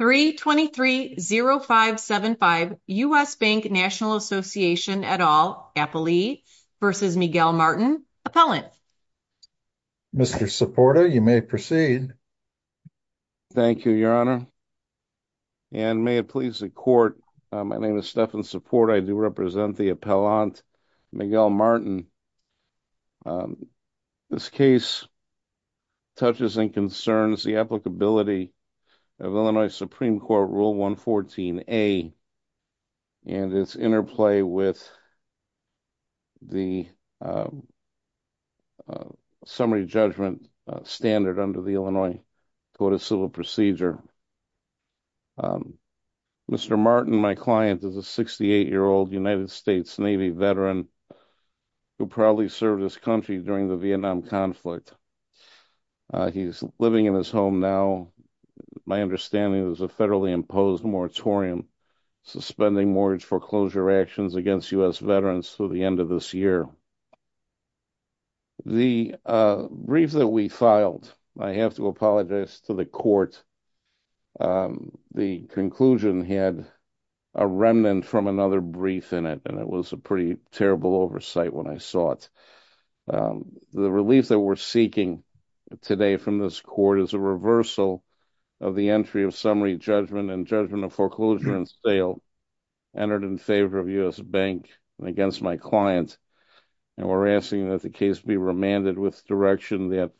3-23-0575 U.S. Bank National Association et al. Appellee v. Miguel Martin Appellant Mr. Supporta, you may proceed. Thank you, Your Honor, and may it please the Court, my name is Stephan Supporta, I do represent the Appellant Miguel Martin. This case touches and concerns the applicability of Illinois Supreme Court Rule 114A and its interplay with the summary judgment standard under the Illinois Code of Civil Procedure. Mr. Martin, my client, is a 68-year-old United States Navy veteran who proudly served his country during the Vietnam conflict. He's living in his home now. My understanding is it was a federally imposed moratorium suspending mortgage foreclosure actions against U.S. veterans through the end of this year. The brief that we filed, I have to apologize to the Court, the conclusion had a remnant from another brief in it, and it was a pretty terrible oversight when I saw it. The relief that we're seeking today from this Court is a reversal of the entry of summary judgment and judgment of foreclosure and sale entered in favor of U.S. Bank and against my client. And we're asking that the case be remanded with direction that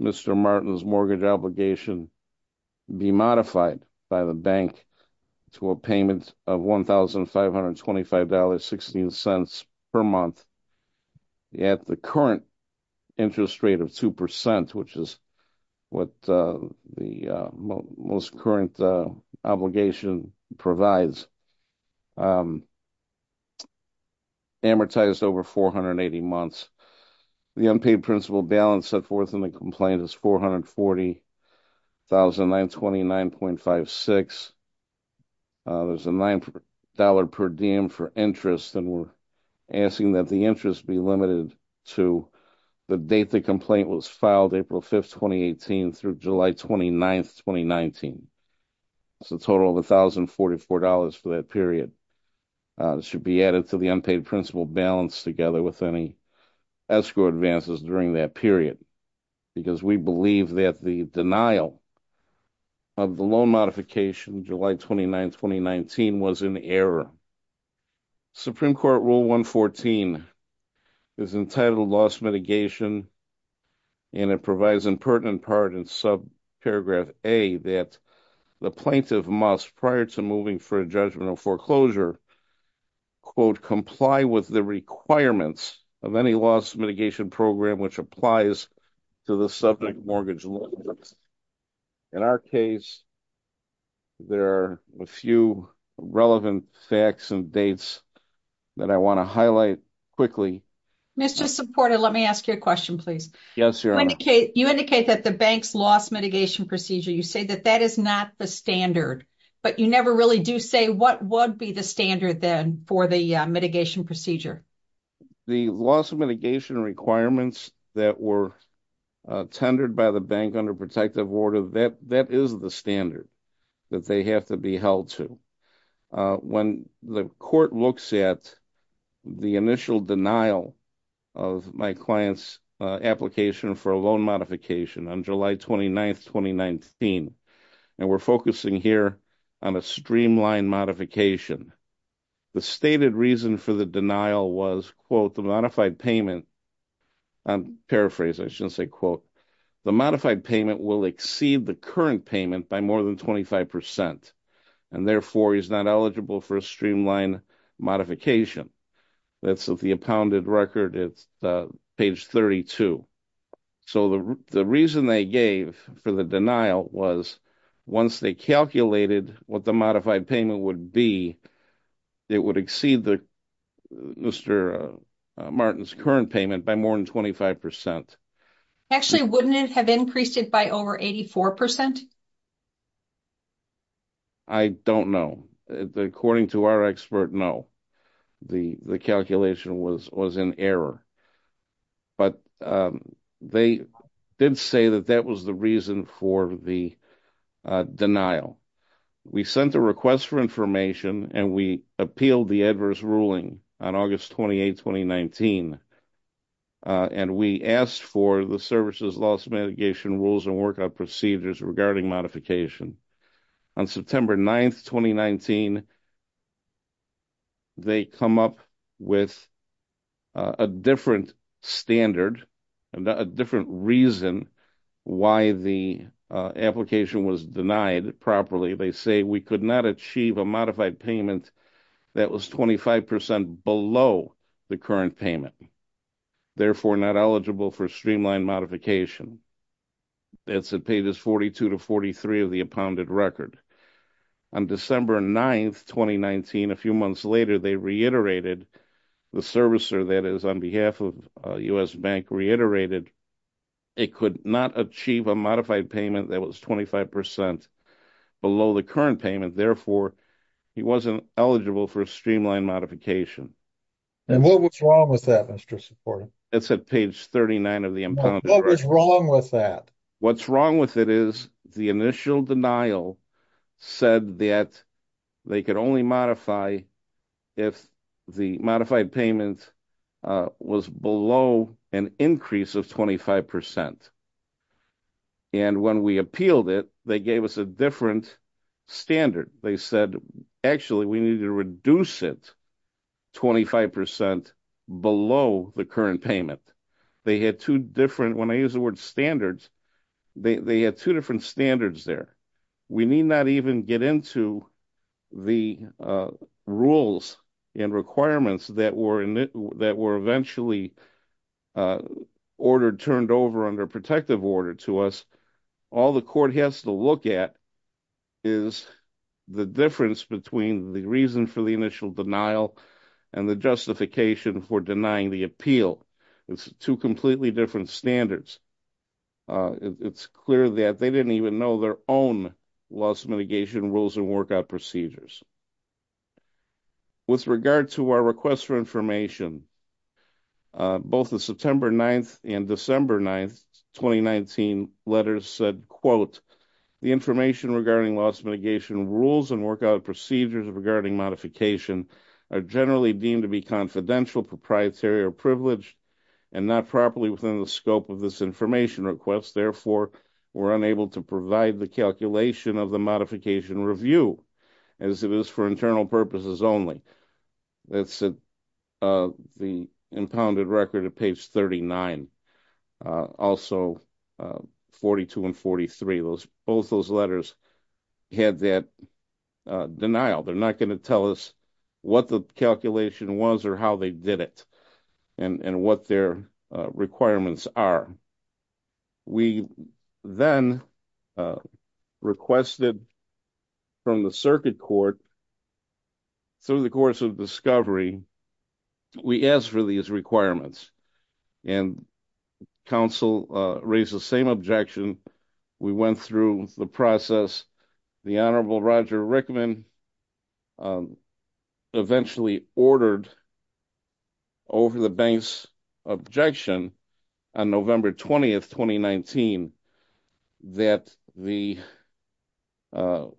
Mr. Martin's mortgage obligation be modified by the Bank to a payment of $1,525.16 per month at the current interest rate of two percent, which is what the most current obligation provides, amortized over 480 months. The unpaid principal balance set forth in the brief is $1,929.56. There's a nine dollar per diem for interest, and we're asking that the interest be limited to the date the complaint was filed, April 5, 2018, through July 29, 2019. It's a total of $1,044 for that period. It should be added to the unpaid principal balance together with any escrow advances during that period, because we believe that the denial of the loan modification, July 29, 2019, was in error. Supreme Court Rule 114 is entitled loss mitigation, and it provides in pertinent part in subparagraph A that the plaintiff must, prior to moving for a judgment of foreclosure, quote, comply with the requirements of any loss mitigation program which applies to the subject mortgage loan. In our case, there are a few relevant facts and dates that I want to highlight quickly. Mr. Supporter, let me ask you a question, please. Yes, Your Honor. You indicate that the bank's loss mitigation procedure, you say that that is not the standard, but you never really do say what would be the standard then for the mitigation procedure. The loss mitigation requirements that were tendered by the bank under protective order, that is the standard that they have to be held to. When the court looks at the initial denial of my client's application for a loan modification on July 29, 2019, and we're focusing here on a streamlined modification, the stated reason for the denial was, quote, the modified payment, I'm paraphrasing, I shouldn't say quote, the modified payment will exceed the current payment by more than 25 percent, and therefore he's not eligible for a streamlined modification. That's of the appounded record, it's page 32. So the reason they gave for the denial was once they calculated what the modified payment would be, it would exceed Mr. Martin's current payment by more than 25 percent. Actually, wouldn't it have increased it by over 84 percent? I don't know. According to our expert, no. The calculation was an error, but they did say that that was the reason for the denial. We sent a request for information and we appealed the adverse ruling on August 28, 2019, and we asked for the services loss mitigation rules and work out procedures regarding modification. On September 9, 2019, they come up with a different standard and a different reason why the application was denied properly. They say we could not achieve a modified payment that was 25 percent below the current payment, therefore not eligible for streamlined modification. That's at pages 42 to 43 of the appounded record. On December 9, 2019, a few months later, they reiterated the servicer that is on behalf of U.S. Bank reiterated it could not achieve a modified payment that was 25 percent below the current payment. Therefore, he wasn't eligible for a streamlined modification. And what was wrong with that, Mr. Supporti? That's at page 39 of the appounded record. What was wrong with that? What's wrong with it is the initial denial said that they could only modify if the modified payment was below an increase of 25 percent. And when we appealed it, they gave us a different standard. They said, actually, we need to reduce it 25 percent below the current payment. They had two different, when I use the word standards, they had two different standards there. We need not even get into the rules and requirements that were that were eventually ordered, turned over under protective order to us. All the court has to look at is the difference between the reason for the initial denial and the justification for denying the appeal. It's two completely different standards. It's clear that they didn't even know their own loss mitigation rules and workout procedures. With regard to our request for information, both the September 9th and December 9th, 2019 letters said, quote, the information regarding loss mitigation rules and workout procedures regarding modification are generally deemed to be confidential, proprietary, or privileged, and not properly within the scope of this information request. Therefore, we're unable to provide the calculation of the modification review, as it is for internal purposes only. That's the impounded record at page 39, also 42 and 43. Both those letters had that denial. They're not going to tell us what the calculation was or how they did it and what their requirements are. We then requested from the circuit court, through the course of discovery, we asked for these requirements, and counsel raised the same objection. We went through the process. The Honorable Roger Rickman eventually ordered over the bank's objection on November 20th, 2019, that all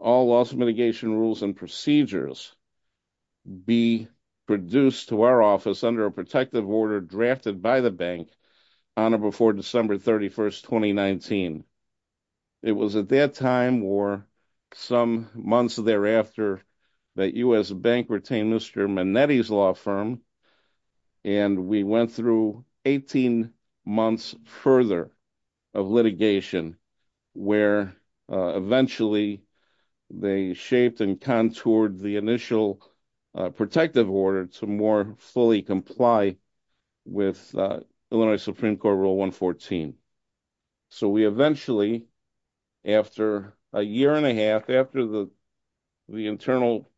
loss mitigation rules and procedures be produced to our office under a protective order drafted by the bank on or before December 31st, 2019. It was at that time or some months thereafter that U.S. Bank retained Mr. Manetti's law firm, and we went through 18 months further of litigation, where eventually they shaped and contoured the initial protective order to more fully comply with Illinois Supreme Court Rule 114. So we eventually, after a year and a half, after the the internal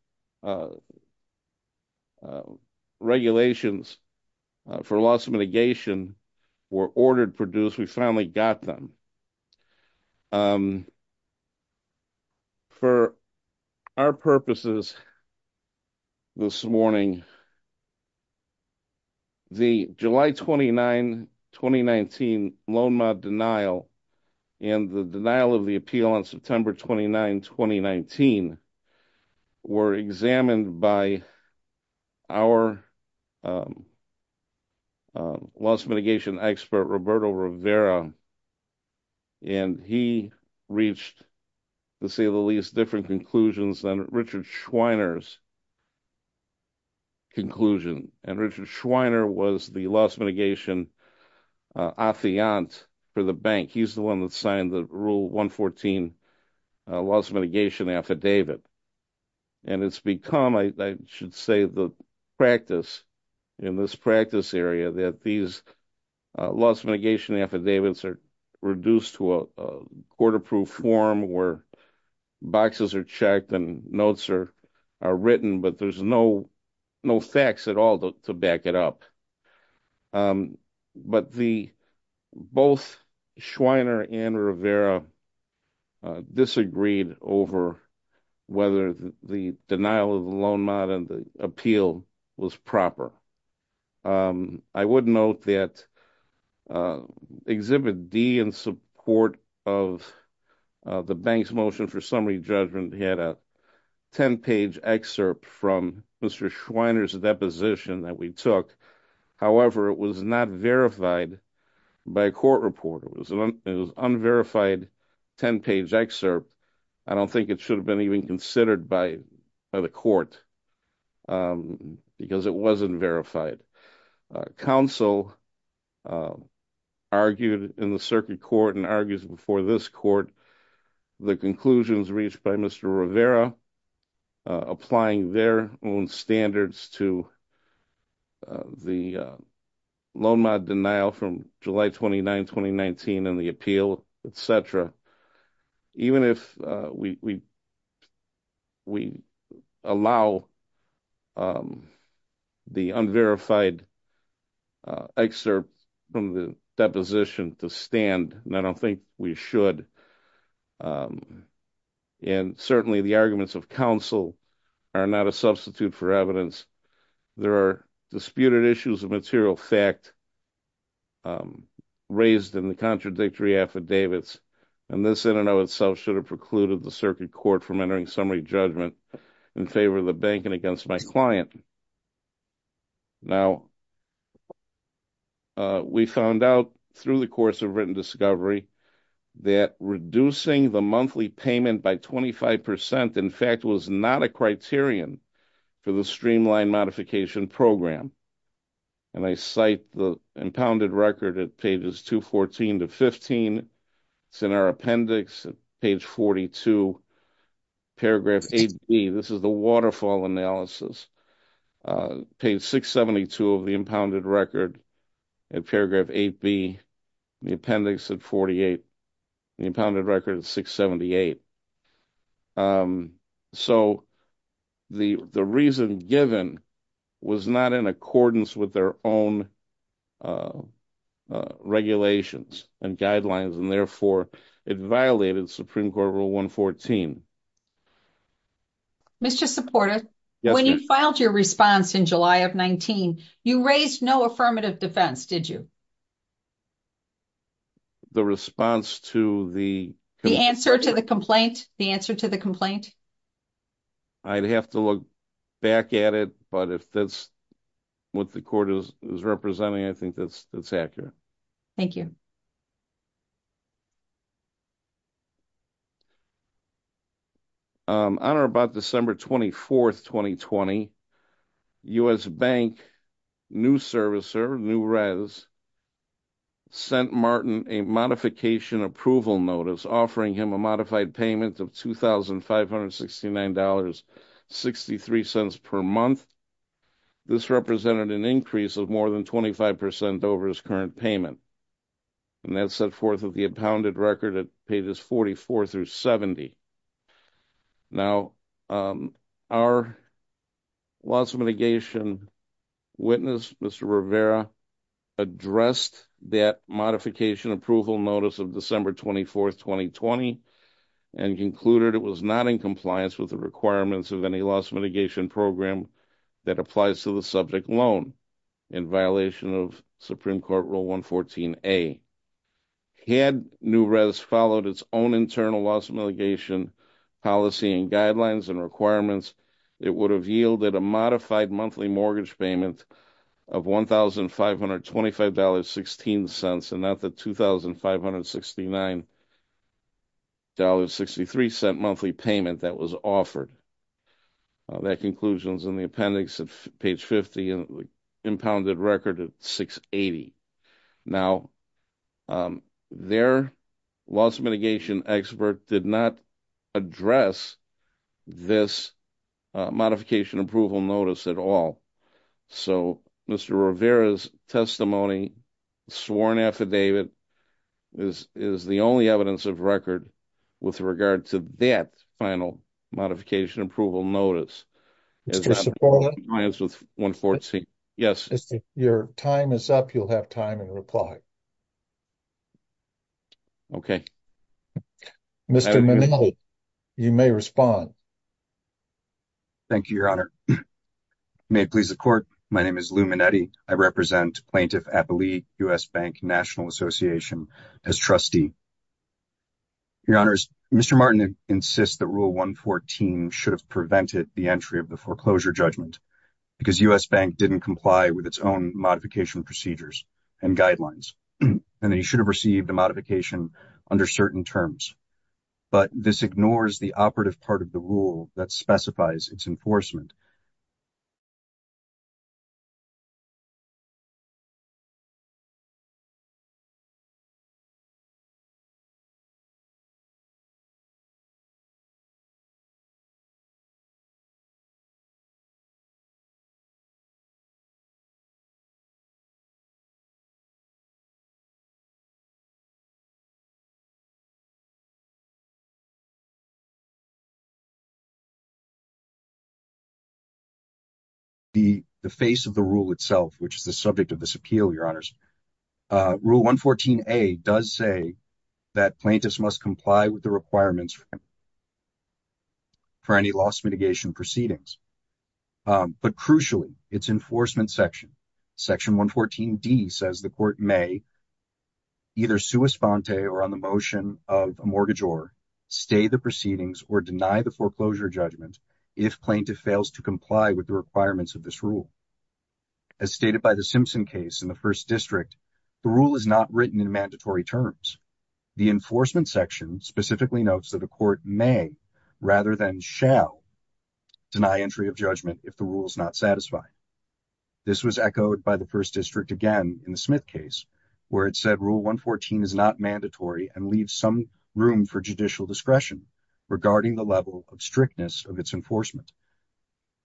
regulations for loss mitigation were ordered produced, we finally got them. For our purposes this morning, the July 29, 2019, loan mod denial and the denial of the appeal on September 29, 2019, were examined by our loss mitigation expert Roberto Rivera, and he reached, to say the least, different conclusions than Richard Schweiner's conclusion, and Richard Schweiner was the loss mitigation affiant for the bank. He's the one that signed the Rule 114 loss mitigation affidavit, and it's become, I should say, the practice in this practice area that these loss mitigation affidavits are reduced to a written, but there's no facts at all to back it up. But both Schweiner and Rivera disagreed over whether the denial of the loan mod and the appeal was proper. I would note that Exhibit D, in support of the bank's motion for summary judgment, had a 10-page excerpt from Mr. Schweiner's deposition that we took. However, it was not verified by a court report. It was an unverified 10-page excerpt. I don't think it should have been even considered by the court because it wasn't verified. Counsel argued in the circuit court and argues before this court the conclusions reached by Mr. Rivera applying their own standards to the loan mod denial from July 29, 2019, and the appeal, etc. Even if we allow the unverified excerpt from the deposition to stand, and I don't think we should, and certainly the arguments of counsel are not a substitute for evidence. There are disputed issues of material fact raised in the contradictory affidavits, and this in and of itself should have precluded the circuit court from entering summary judgment in favor of the bank and against my client. Now, we found out through the course of written discovery that reducing the monthly payment by 25 percent, in fact, was not a criterion for the streamlined modification program, and I cite the impounded record at pages 214 to 15. It's in our appendix, page 42, paragraph 8b. This is the waterfall analysis. Page 672 of the impounded record, in paragraph 8b, the appendix at 48. The impounded record is 678. So the reason given was not in accordance with their own regulations and guidelines, and therefore, it violated Supreme Court Rule 114. Mr. Supporta, when you filed your response in July of 19, you raised no affirmative defense, did you? The response to the... The answer to the complaint? The answer to the complaint? I'd have to look back at it, but if that's what the court is representing, I think that's accurate. Thank you. On or about December 24, 2020, U.S. Bank new servicer, New-Res, sent Martin a modification approval notice offering him a modified payment of $2,569.63 per month. This represented an increase of more than 25 percent over his current payment, and that set forth of the impounded record at pages 44 through 70. Now, our loss mitigation witness, Mr. Rivera, addressed that modification approval notice of December 24, 2020, and concluded it was not in compliance with the requirements of any loss mitigation program that applies to the subject alone in violation of Supreme Court Rule 114A. Had New-Res followed its own internal loss mitigation policy and guidelines and requirements, it would have yielded a modified monthly mortgage payment of $1,525.16, and not the $2,569.63 monthly payment that was offered. That conclusion is in the appendix at page 50 and the impounded record at 680. Now, their loss mitigation expert did not address this modification approval notice at all, so Mr. Rivera's testimony, sworn affidavit, is the only evidence of record with regard to that final modification approval notice. Mr. Cipolla, yes. If your time is up, you'll have time and reply. Okay. Mr. Minnelli, you may respond. Thank you, Your Honor. May it please the Court, my name is Lou Minnetti. I represent Plaintiff Appali, U.S. Bank National Association as trustee. Your Honor, Mr. Martin insists that Rule 114 should have prevented the entry of the foreclosure judgment because U.S. Bank didn't comply with its own modification procedures and guidelines, and that he should have received a modification under certain terms, but this ignores the operative part of the rule that specifies its enforcement. The face of the rule itself, which is the subject of this appeal, Your Honor, Mr. Minnelli does say that plaintiffs must comply with the requirements for any loss mitigation proceedings, but crucially, its enforcement section, Section 114D, says the Court may either sua sponte or on the motion of a mortgage or stay the proceedings or deny the foreclosure judgment if plaintiff fails to comply with the requirements of this rule. As stated by the Simpson case in the First District, the rule is not written in mandatory terms. The enforcement section specifically notes that the Court may, rather than shall, deny entry of judgment if the rule is not satisfied. This was echoed by the First District again in the Smith case, where it said Rule 114 is not mandatory and leaves some room for judicial discretion regarding the level of strictness of its enforcement.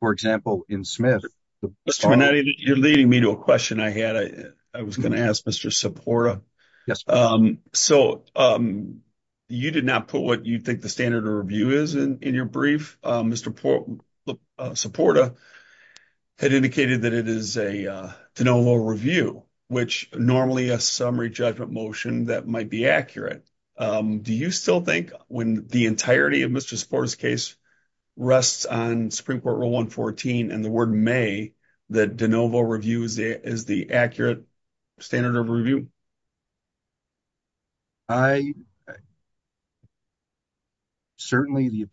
For example, in Smith... Mr. Minnelli, you're leading me to a question I had. I was going to ask Mr. Soporta. So, you did not put what you think the standard of review is in your brief. Mr. Soporta had indicated that it is a de novo review, which normally a summary judgment motion that might be accurate. Do you still think when the entirety of Mr. Soporta's case rests on Supreme Court Rule 114 and the word may, that de novo review is the accurate standard of review? I... Certainly, the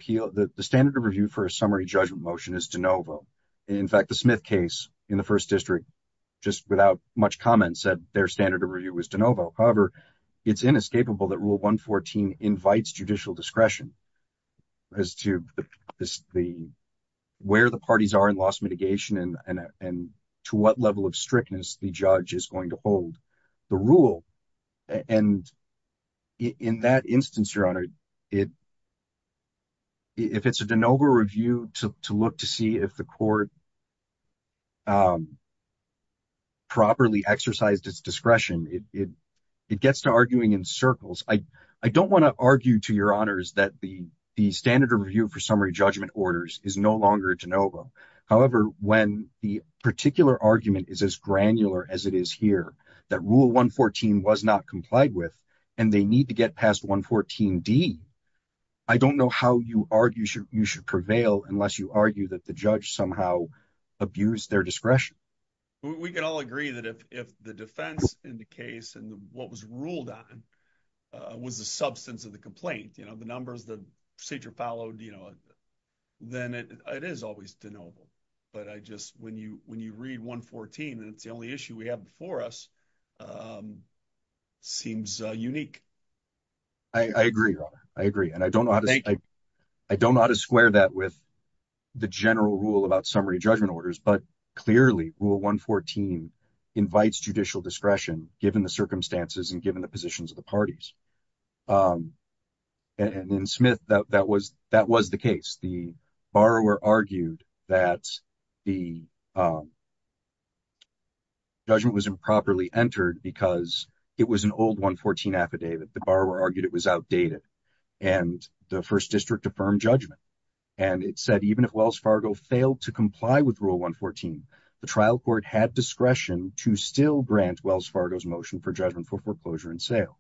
standard of review for a summary judgment motion is de novo. In fact, the Smith case in the First District, just without much comment, said their standard of review was de novo. However, it's inescapable that Rule 114 invites judicial discretion as to where the parties are in cross-mitigation and to what level of strictness the judge is going to hold the rule. And in that instance, Your Honor, if it's a de novo review to look to see if the court properly exercised its discretion, it gets to arguing in circles. I don't want to argue to Your Honors that the standard of review for summary when the particular argument is as granular as it is here, that Rule 114 was not complied with and they need to get past 114D. I don't know how you argue you should prevail unless you argue that the judge somehow abused their discretion. We can all agree that if the defense in the case and what was ruled on was the substance of the complaint, you know, the numbers the procedure followed, you know, then it is always de novo. But I just, when you when you read 114 and it's the only issue we have before us, seems unique. I agree, Your Honor. I agree and I don't know how to square that with the general rule about summary judgment orders, but clearly Rule 114 invites judicial discretion given the circumstances and given the positions of the parties. And in Smith, that was the case. The borrower argued that the judgment was improperly entered because it was an old 114 affidavit. The borrower argued it was outdated and the First District affirmed judgment and it said even if Wells Fargo failed to comply with Rule 114, the trial court had discretion to still grant Wells Fargo's motion for judgment for foreclosure and sale.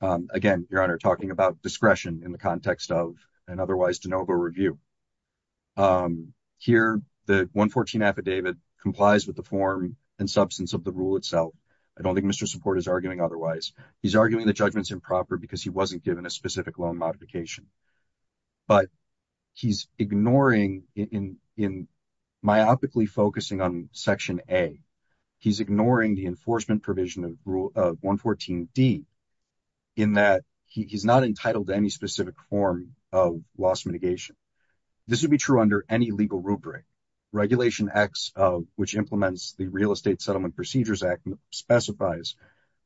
Again, Your Honor, talking about discretion in the context of an otherwise de novo review. Here, the 114 affidavit complies with the form and substance of the rule itself. I don't think Mr. Support is arguing otherwise. He's arguing the judgment's improper because he wasn't given a specific loan modification. But he's ignoring, in myopically focusing on Section A, he's ignoring the enforcement provision of Rule 114d in that he's not entitled to any specific form of loss mitigation. This would be true under any legal rubric. Regulation X, which implements the Real Estate Settlement Procedures Act, specifies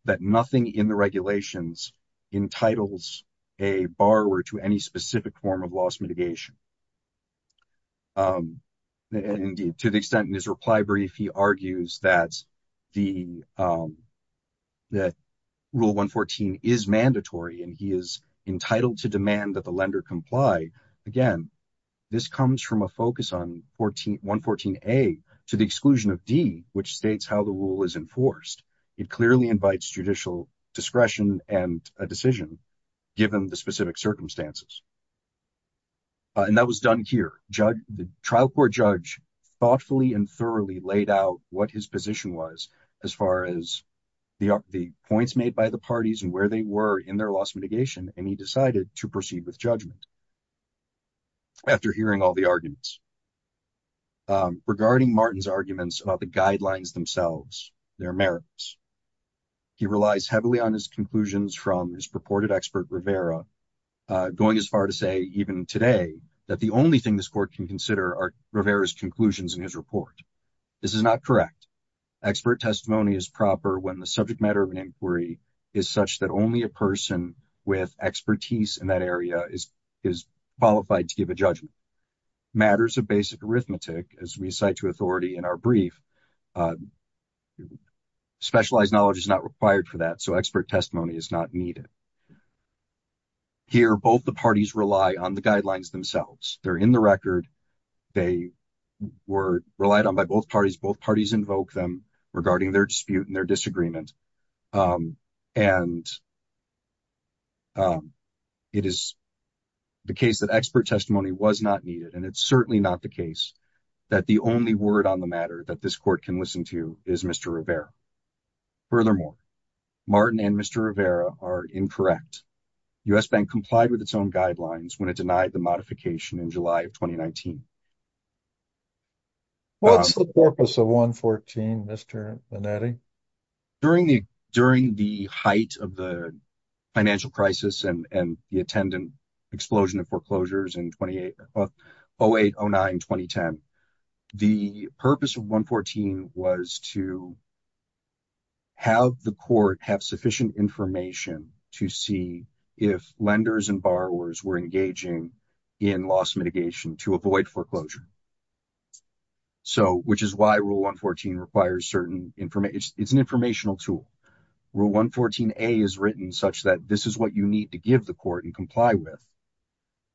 that nothing in the regulations entitles a borrower to any specific form of loss mitigation. Indeed, to the extent in his reply brief, he argues that the that Rule 114 is mandatory and he is entitled to demand that the lender comply. Again, this comes from a focus on 114a to the exclusion of D, which states how the rule is enforced. It clearly invites judicial discretion and a decision, given the specific circumstances. And that was done here. The trial court judge thoughtfully and thoroughly laid out what his position was, as far as the points made by the parties and where they were in their loss mitigation, and he decided to proceed with judgment. After hearing all the arguments. Regarding Martin's arguments about the guidelines themselves, their merits, he relies heavily on his conclusions from his purported expert Rivera, going as far to say, even today, that the only thing this court can consider are Rivera's conclusions in his report. This is not correct. Expert testimony is proper when the subject matter of an inquiry is such that only a person with expertise in that area is qualified to give a judgment. Matters of basic arithmetic, as we cite to authority in our brief, specialized knowledge is not required for that, so expert testimony is not needed. Here, both the parties rely on the guidelines themselves. They're in the record. They were relied on by both parties. Both parties invoke them regarding their dispute and their disagreement, and it is the case that expert testimony was not needed, and it's certainly not the case that the only word on the matter that this court can listen to is Mr. Rivera. Furthermore, Martin and Mr. Rivera are incorrect. U.S. Bank complied with its own guidelines when it denied the modification in July of 2019. What's the purpose of 114, Mr. Linetti? During the height of the financial crisis and the attendant explosion of foreclosures in 2008, 08, 09, 2010, the purpose of 114 was to have the court have sufficient information to see if lenders and borrowers were engaging in loss mitigation to avoid foreclosure, which is why Rule 114 requires certain information. It's an informational tool. Rule 114A is written such that this is what you need to give the court and comply with,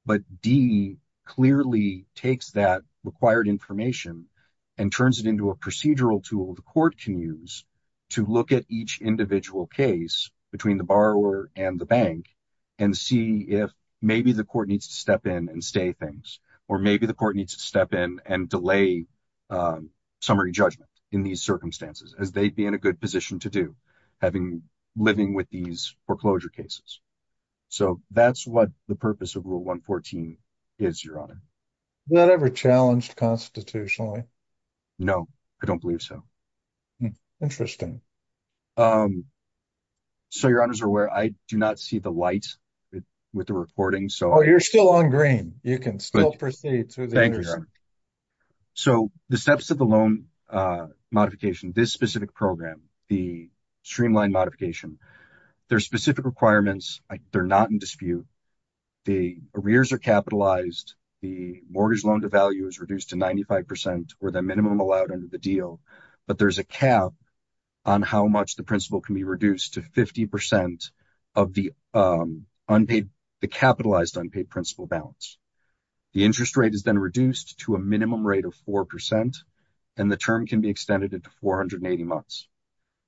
but D clearly takes that required information and turns it into a procedural tool the court can use to look at each individual case between the borrower and the bank and see if maybe the court needs to step in and stay things, or maybe the court needs to step in and delay summary judgment in these circumstances, as they'd be in a good position to do having living with these foreclosure cases. So that's what the purpose of Rule 114 is, Your Honor. Is that ever challenged constitutionally? No, I don't believe so. Interesting. So, Your Honor, as you're aware, I do not see the light with the recording. Oh, you're still on green. You can still proceed. Thank you, Your Honor. So, the steps of the loan modification, this specific program, the streamlined modification, there are specific requirements. They're not in dispute. The arrears are capitalized. The mortgage loan to value is reduced to 95 percent or the minimum allowed under the deal, but there's a cap on how much the principal can be reduced to 50 percent of the unpaid, the capitalized unpaid principal balance. The interest rate is then reduced to a minimum rate of 4 percent, and the term can be extended into 480 months.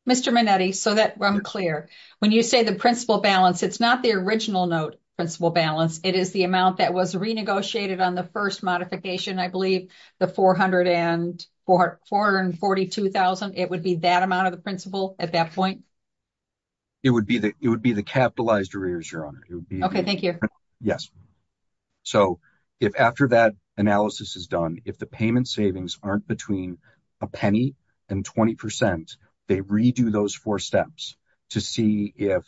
Mr. Minetti, so that I'm clear. When you say the principal balance, it's not the original note principal balance. It is the amount that was renegotiated on the first modification, I believe, the $442,000. It would be that amount of the principal at that point? It would be the capitalized arrears, Your Honor. Okay, thank you. Yes. So, if after that analysis is done, if the payment savings aren't between a penny and 20 percent, they redo those four steps to see if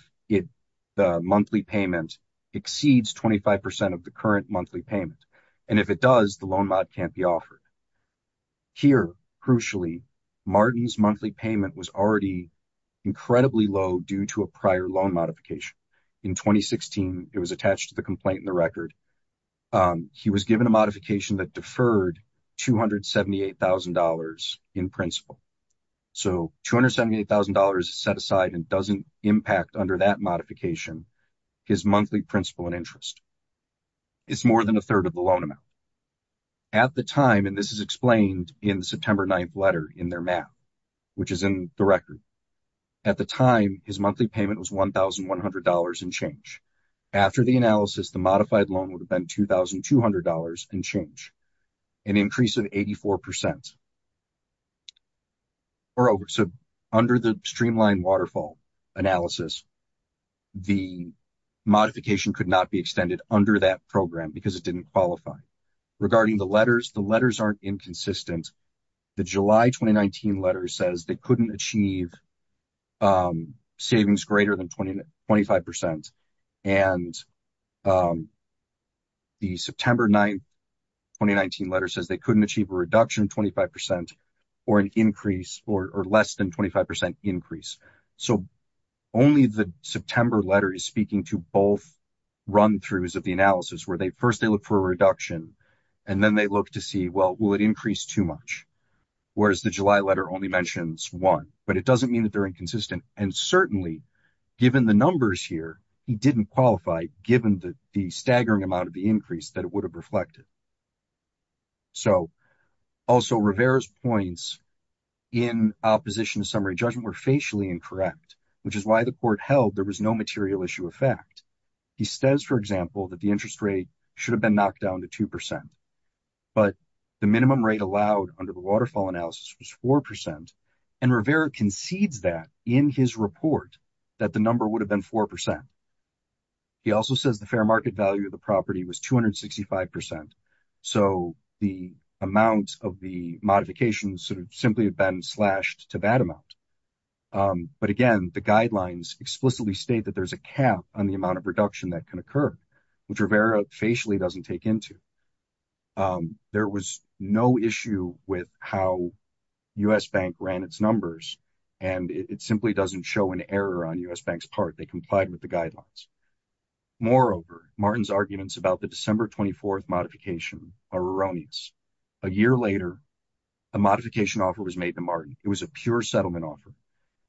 the monthly payment exceeds 25 percent of the current monthly payment. And if it does, the loan mod can't be offered. Here, crucially, Martin's monthly payment was already incredibly low due to a prior loan modification. In 2016, it was attached to the complaint in the record. He was given a modification that deferred $278,000 in principal. So, $278,000 is set aside and doesn't impact, under that modification, his monthly principal and interest. It's more than a third of the loan amount. At the time, and this is explained in the September 9th letter in their map, which is in the record, at the time his monthly payment was $1,100 and change. After the analysis, the modified loan would have been $2,200 and change, an increase of 84 percent. So, under the streamlined waterfall analysis, the modification could not be extended under that program because it didn't qualify. Regarding the letters, the letters aren't inconsistent. The July 2019 letter says they couldn't achieve savings greater than 25 percent. And the September 9th 2019 letter says they couldn't achieve a reduction of 25 percent or an increase or less than 25 percent increase. So, only the September letter is speaking to both run-throughs of the analysis where first they look for a reduction and then they look to see, well, will it increase too much? Whereas the July letter only mentions one, but it doesn't mean that they're inconsistent. And certainly, given the numbers here, he didn't qualify given the staggering amount of the increase that it would have reflected. So, also Rivera's points in opposition to summary judgment were facially incorrect, which is why the court held there was no material issue of fact. He says, for example, that the interest rate should have been knocked down to two percent, but the minimum rate allowed under the waterfall analysis was four percent, and Rivera concedes that in his report that the number would have been four percent. He also says the fair market value of was 265 percent. So, the amount of the modification sort of simply had been slashed to that amount. But again, the guidelines explicitly state that there's a cap on the amount of reduction that can occur, which Rivera facially doesn't take into. There was no issue with how U.S. Bank ran its numbers and it simply doesn't show an error on U.S. Bank's part. They complied with the guidelines. Moreover, Martin's arguments about the December 24th modification are erroneous. A year later, a modification offer was made to Martin. It was a pure settlement offer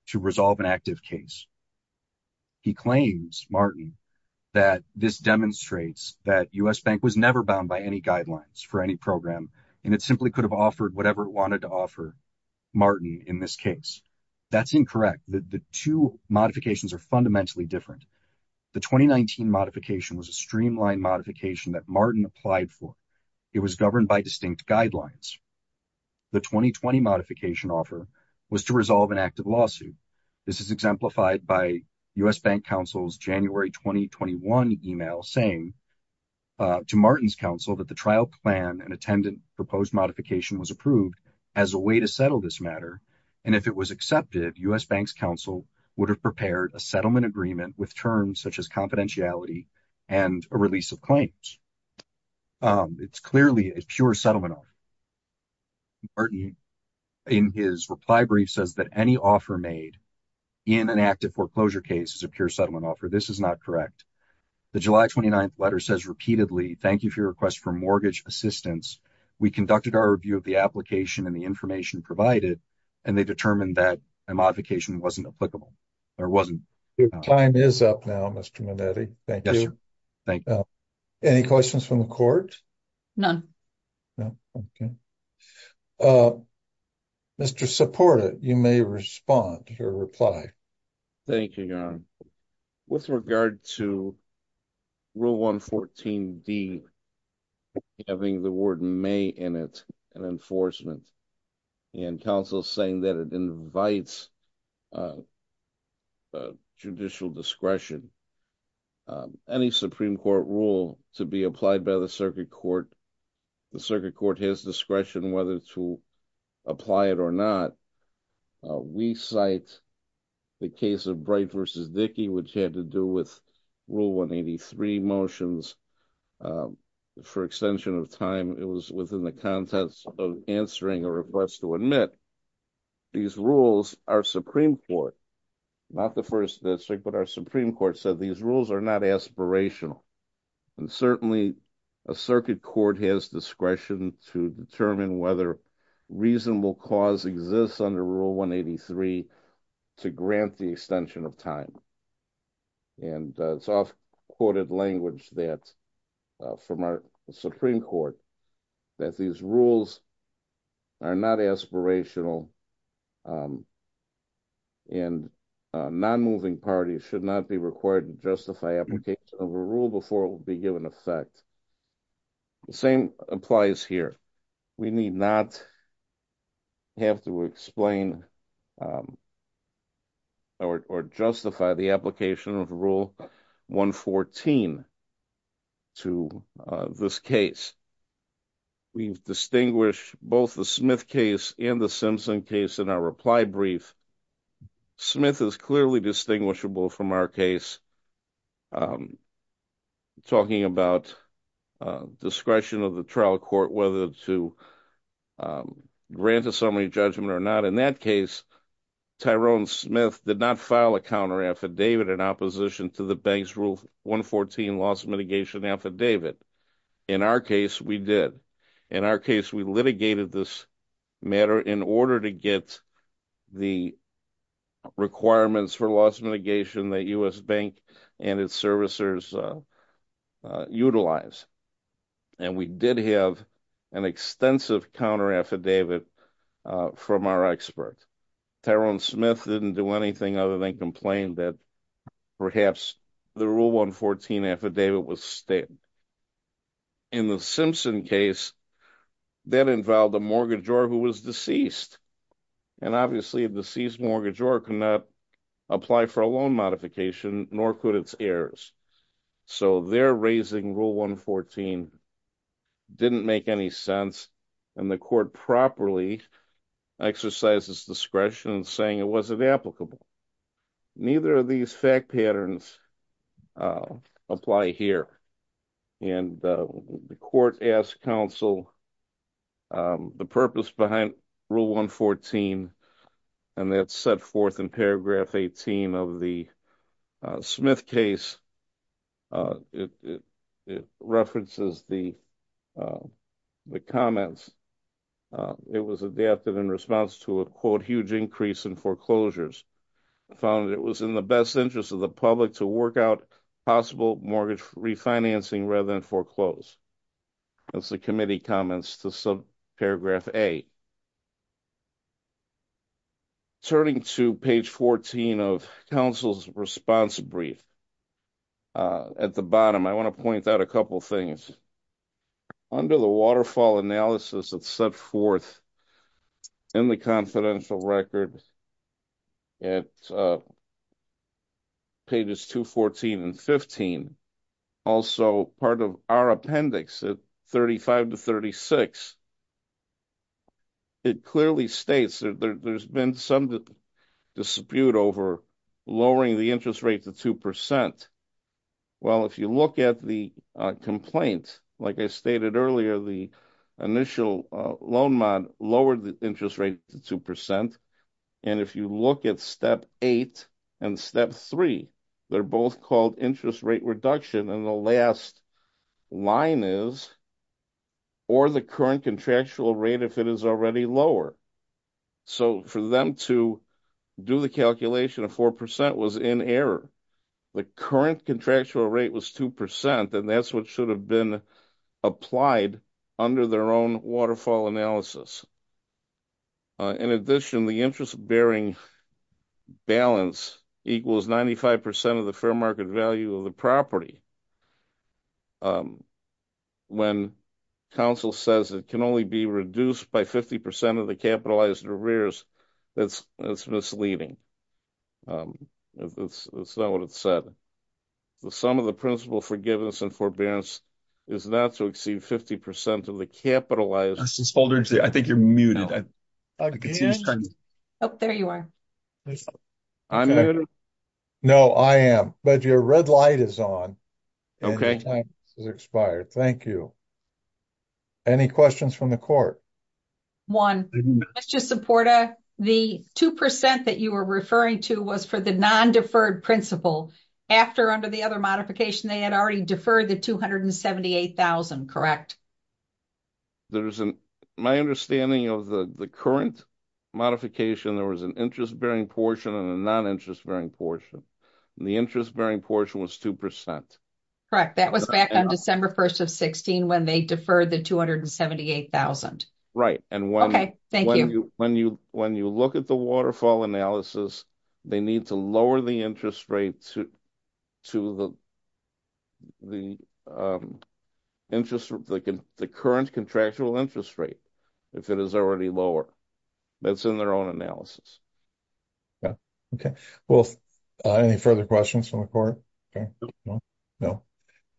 to resolve an active case. He claims, Martin, that this demonstrates that U.S. Bank was never bound by any guidelines for any program, and it simply could have offered whatever it wanted to offer Martin in this case. That's incorrect. The two modifications are fundamentally different. The 2019 modification was a streamlined modification that Martin applied for. It was governed by distinct guidelines. The 2020 modification offer was to resolve an active lawsuit. This is exemplified by U.S. Bank Council's January 2021 email saying to Martin's council that the trial plan and attendant proposed modification was approved as a way to settle this matter, and if it was accepted, U.S. Bank's council would have prepared a settlement agreement with terms such as confidentiality and a release of claims. It's clearly a pure settlement offer. Martin, in his reply brief, says that any offer made in an active foreclosure case is a pure settlement offer. This is not correct. The July 29th letter says repeatedly, thank you for your request for mortgage assistance. We conducted our review of the application and the information provided, and they determined that a modification wasn't applicable, or wasn't. Your time is up now, Mr. Minetti. Thank you. Yes, sir. Thank you. Any questions from the court? None. No? Okay. Mr. Soporta, you may respond to your reply. Thank you, Your Honor. With regard to rule 114D, having the word may in it, and enforcement, and council saying that it invites judicial discretion, any Supreme Court rule to be applied by the circuit court, the circuit court has discretion whether to apply it or not. We cite the case of Bright v. Dickey, which had to do with rule 183 motions. For extension of time, it was within the context of answering a request to admit these rules, our Supreme Court, not the first district, but our Supreme Court said these rules are not aspirational. And certainly, a circuit court has discretion to determine whether reasonable cause exists under rule 183 to grant the extension of time. And it's often quoted language that, from our Supreme Court, that these rules are not aspirational and non-moving parties should not be required to justify application of a rule before it will be rule 114 to this case. We've distinguished both the Smith case and the Simpson case in our reply brief. Smith is clearly distinguishable from our case talking about discretion of the trial court, whether to grant a summary judgment or not. In that case, Tyrone Smith did not file a counter-affidavit in opposition to the bank's rule 114 loss mitigation affidavit. In our case, we did. In our case, we litigated this matter in order to get the requirements for loss mitigation that U.S. Bank and its servicers utilize. And we did have an extensive counter-affidavit from our expert. Tyrone Smith didn't do anything other than complain that perhaps the rule 114 affidavit was stated. In the Simpson case, that involved a mortgagor who was deceased. And obviously, a deceased mortgagor cannot apply for a loan modification, nor could its heirs. So their raising rule 114 didn't make any sense, and the court properly exercises discretion in saying it wasn't applicable. Neither of these fact patterns apply here. And the court asked counsel the purpose behind rule 114, and that's set forth in paragraph 18 of the Smith case. It references the comments. It was adapted in response to a quote, huge increase in foreclosures. Found it was in the best interest of the public to work out possible mortgage refinancing rather than foreclose. That's the committee comments to paragraph 8. Turning to page 14 of counsel's response brief. At the bottom, I want to point out a couple of things. Under the waterfall analysis that's set forth in the confidential record at pages 214 and 15, also part of our appendix at 35 to 36, it clearly states that there's been some dispute over lowering the interest rate to 2%. Well, if you look at the complaint, like I stated earlier, the initial loan mod lowered the interest rate to 2%, and if you look at step 8 and step 3, they're both called interest rate reduction, and the last line is, or the current contractual rate if it is already lower. So for them to do the calculation of 4% was in error. The current contractual rate was 2%, and that's what should have been applied under their own waterfall analysis. In addition, the interest-bearing balance equals 95% of the fair market value of the property. When counsel says it can only be reduced by 50% of the capitalized arrears, that's misleading. That's not what it said. The sum of the principal forgiveness and forbearance is not to exceed 50% of the capitalized. I think you're muted. Oh, there you are. No, I am, but your red light is on. Okay. Thank you. Any questions from the court? One, the 2% that you were referring to was for the non-deferred principal. After, under the other modification, they had already deferred the $278,000, correct? Correct. My understanding of the current modification, there was an interest-bearing portion and a non-interest-bearing portion. The interest-bearing portion was 2%. Correct. That was back on December 1st of 2016 when they deferred the $278,000. Right. When you look at the waterfall analysis, they need to lower the interest rate to the current contractual interest rate if it is already lower. That's in their own analysis. Yeah. Okay. Well, any further questions from the court? No.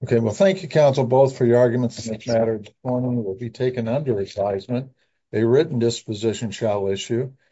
Okay. Well, thank you, counsel, both for your arguments. This matter will be taken under advisement. A written disposition shall issue.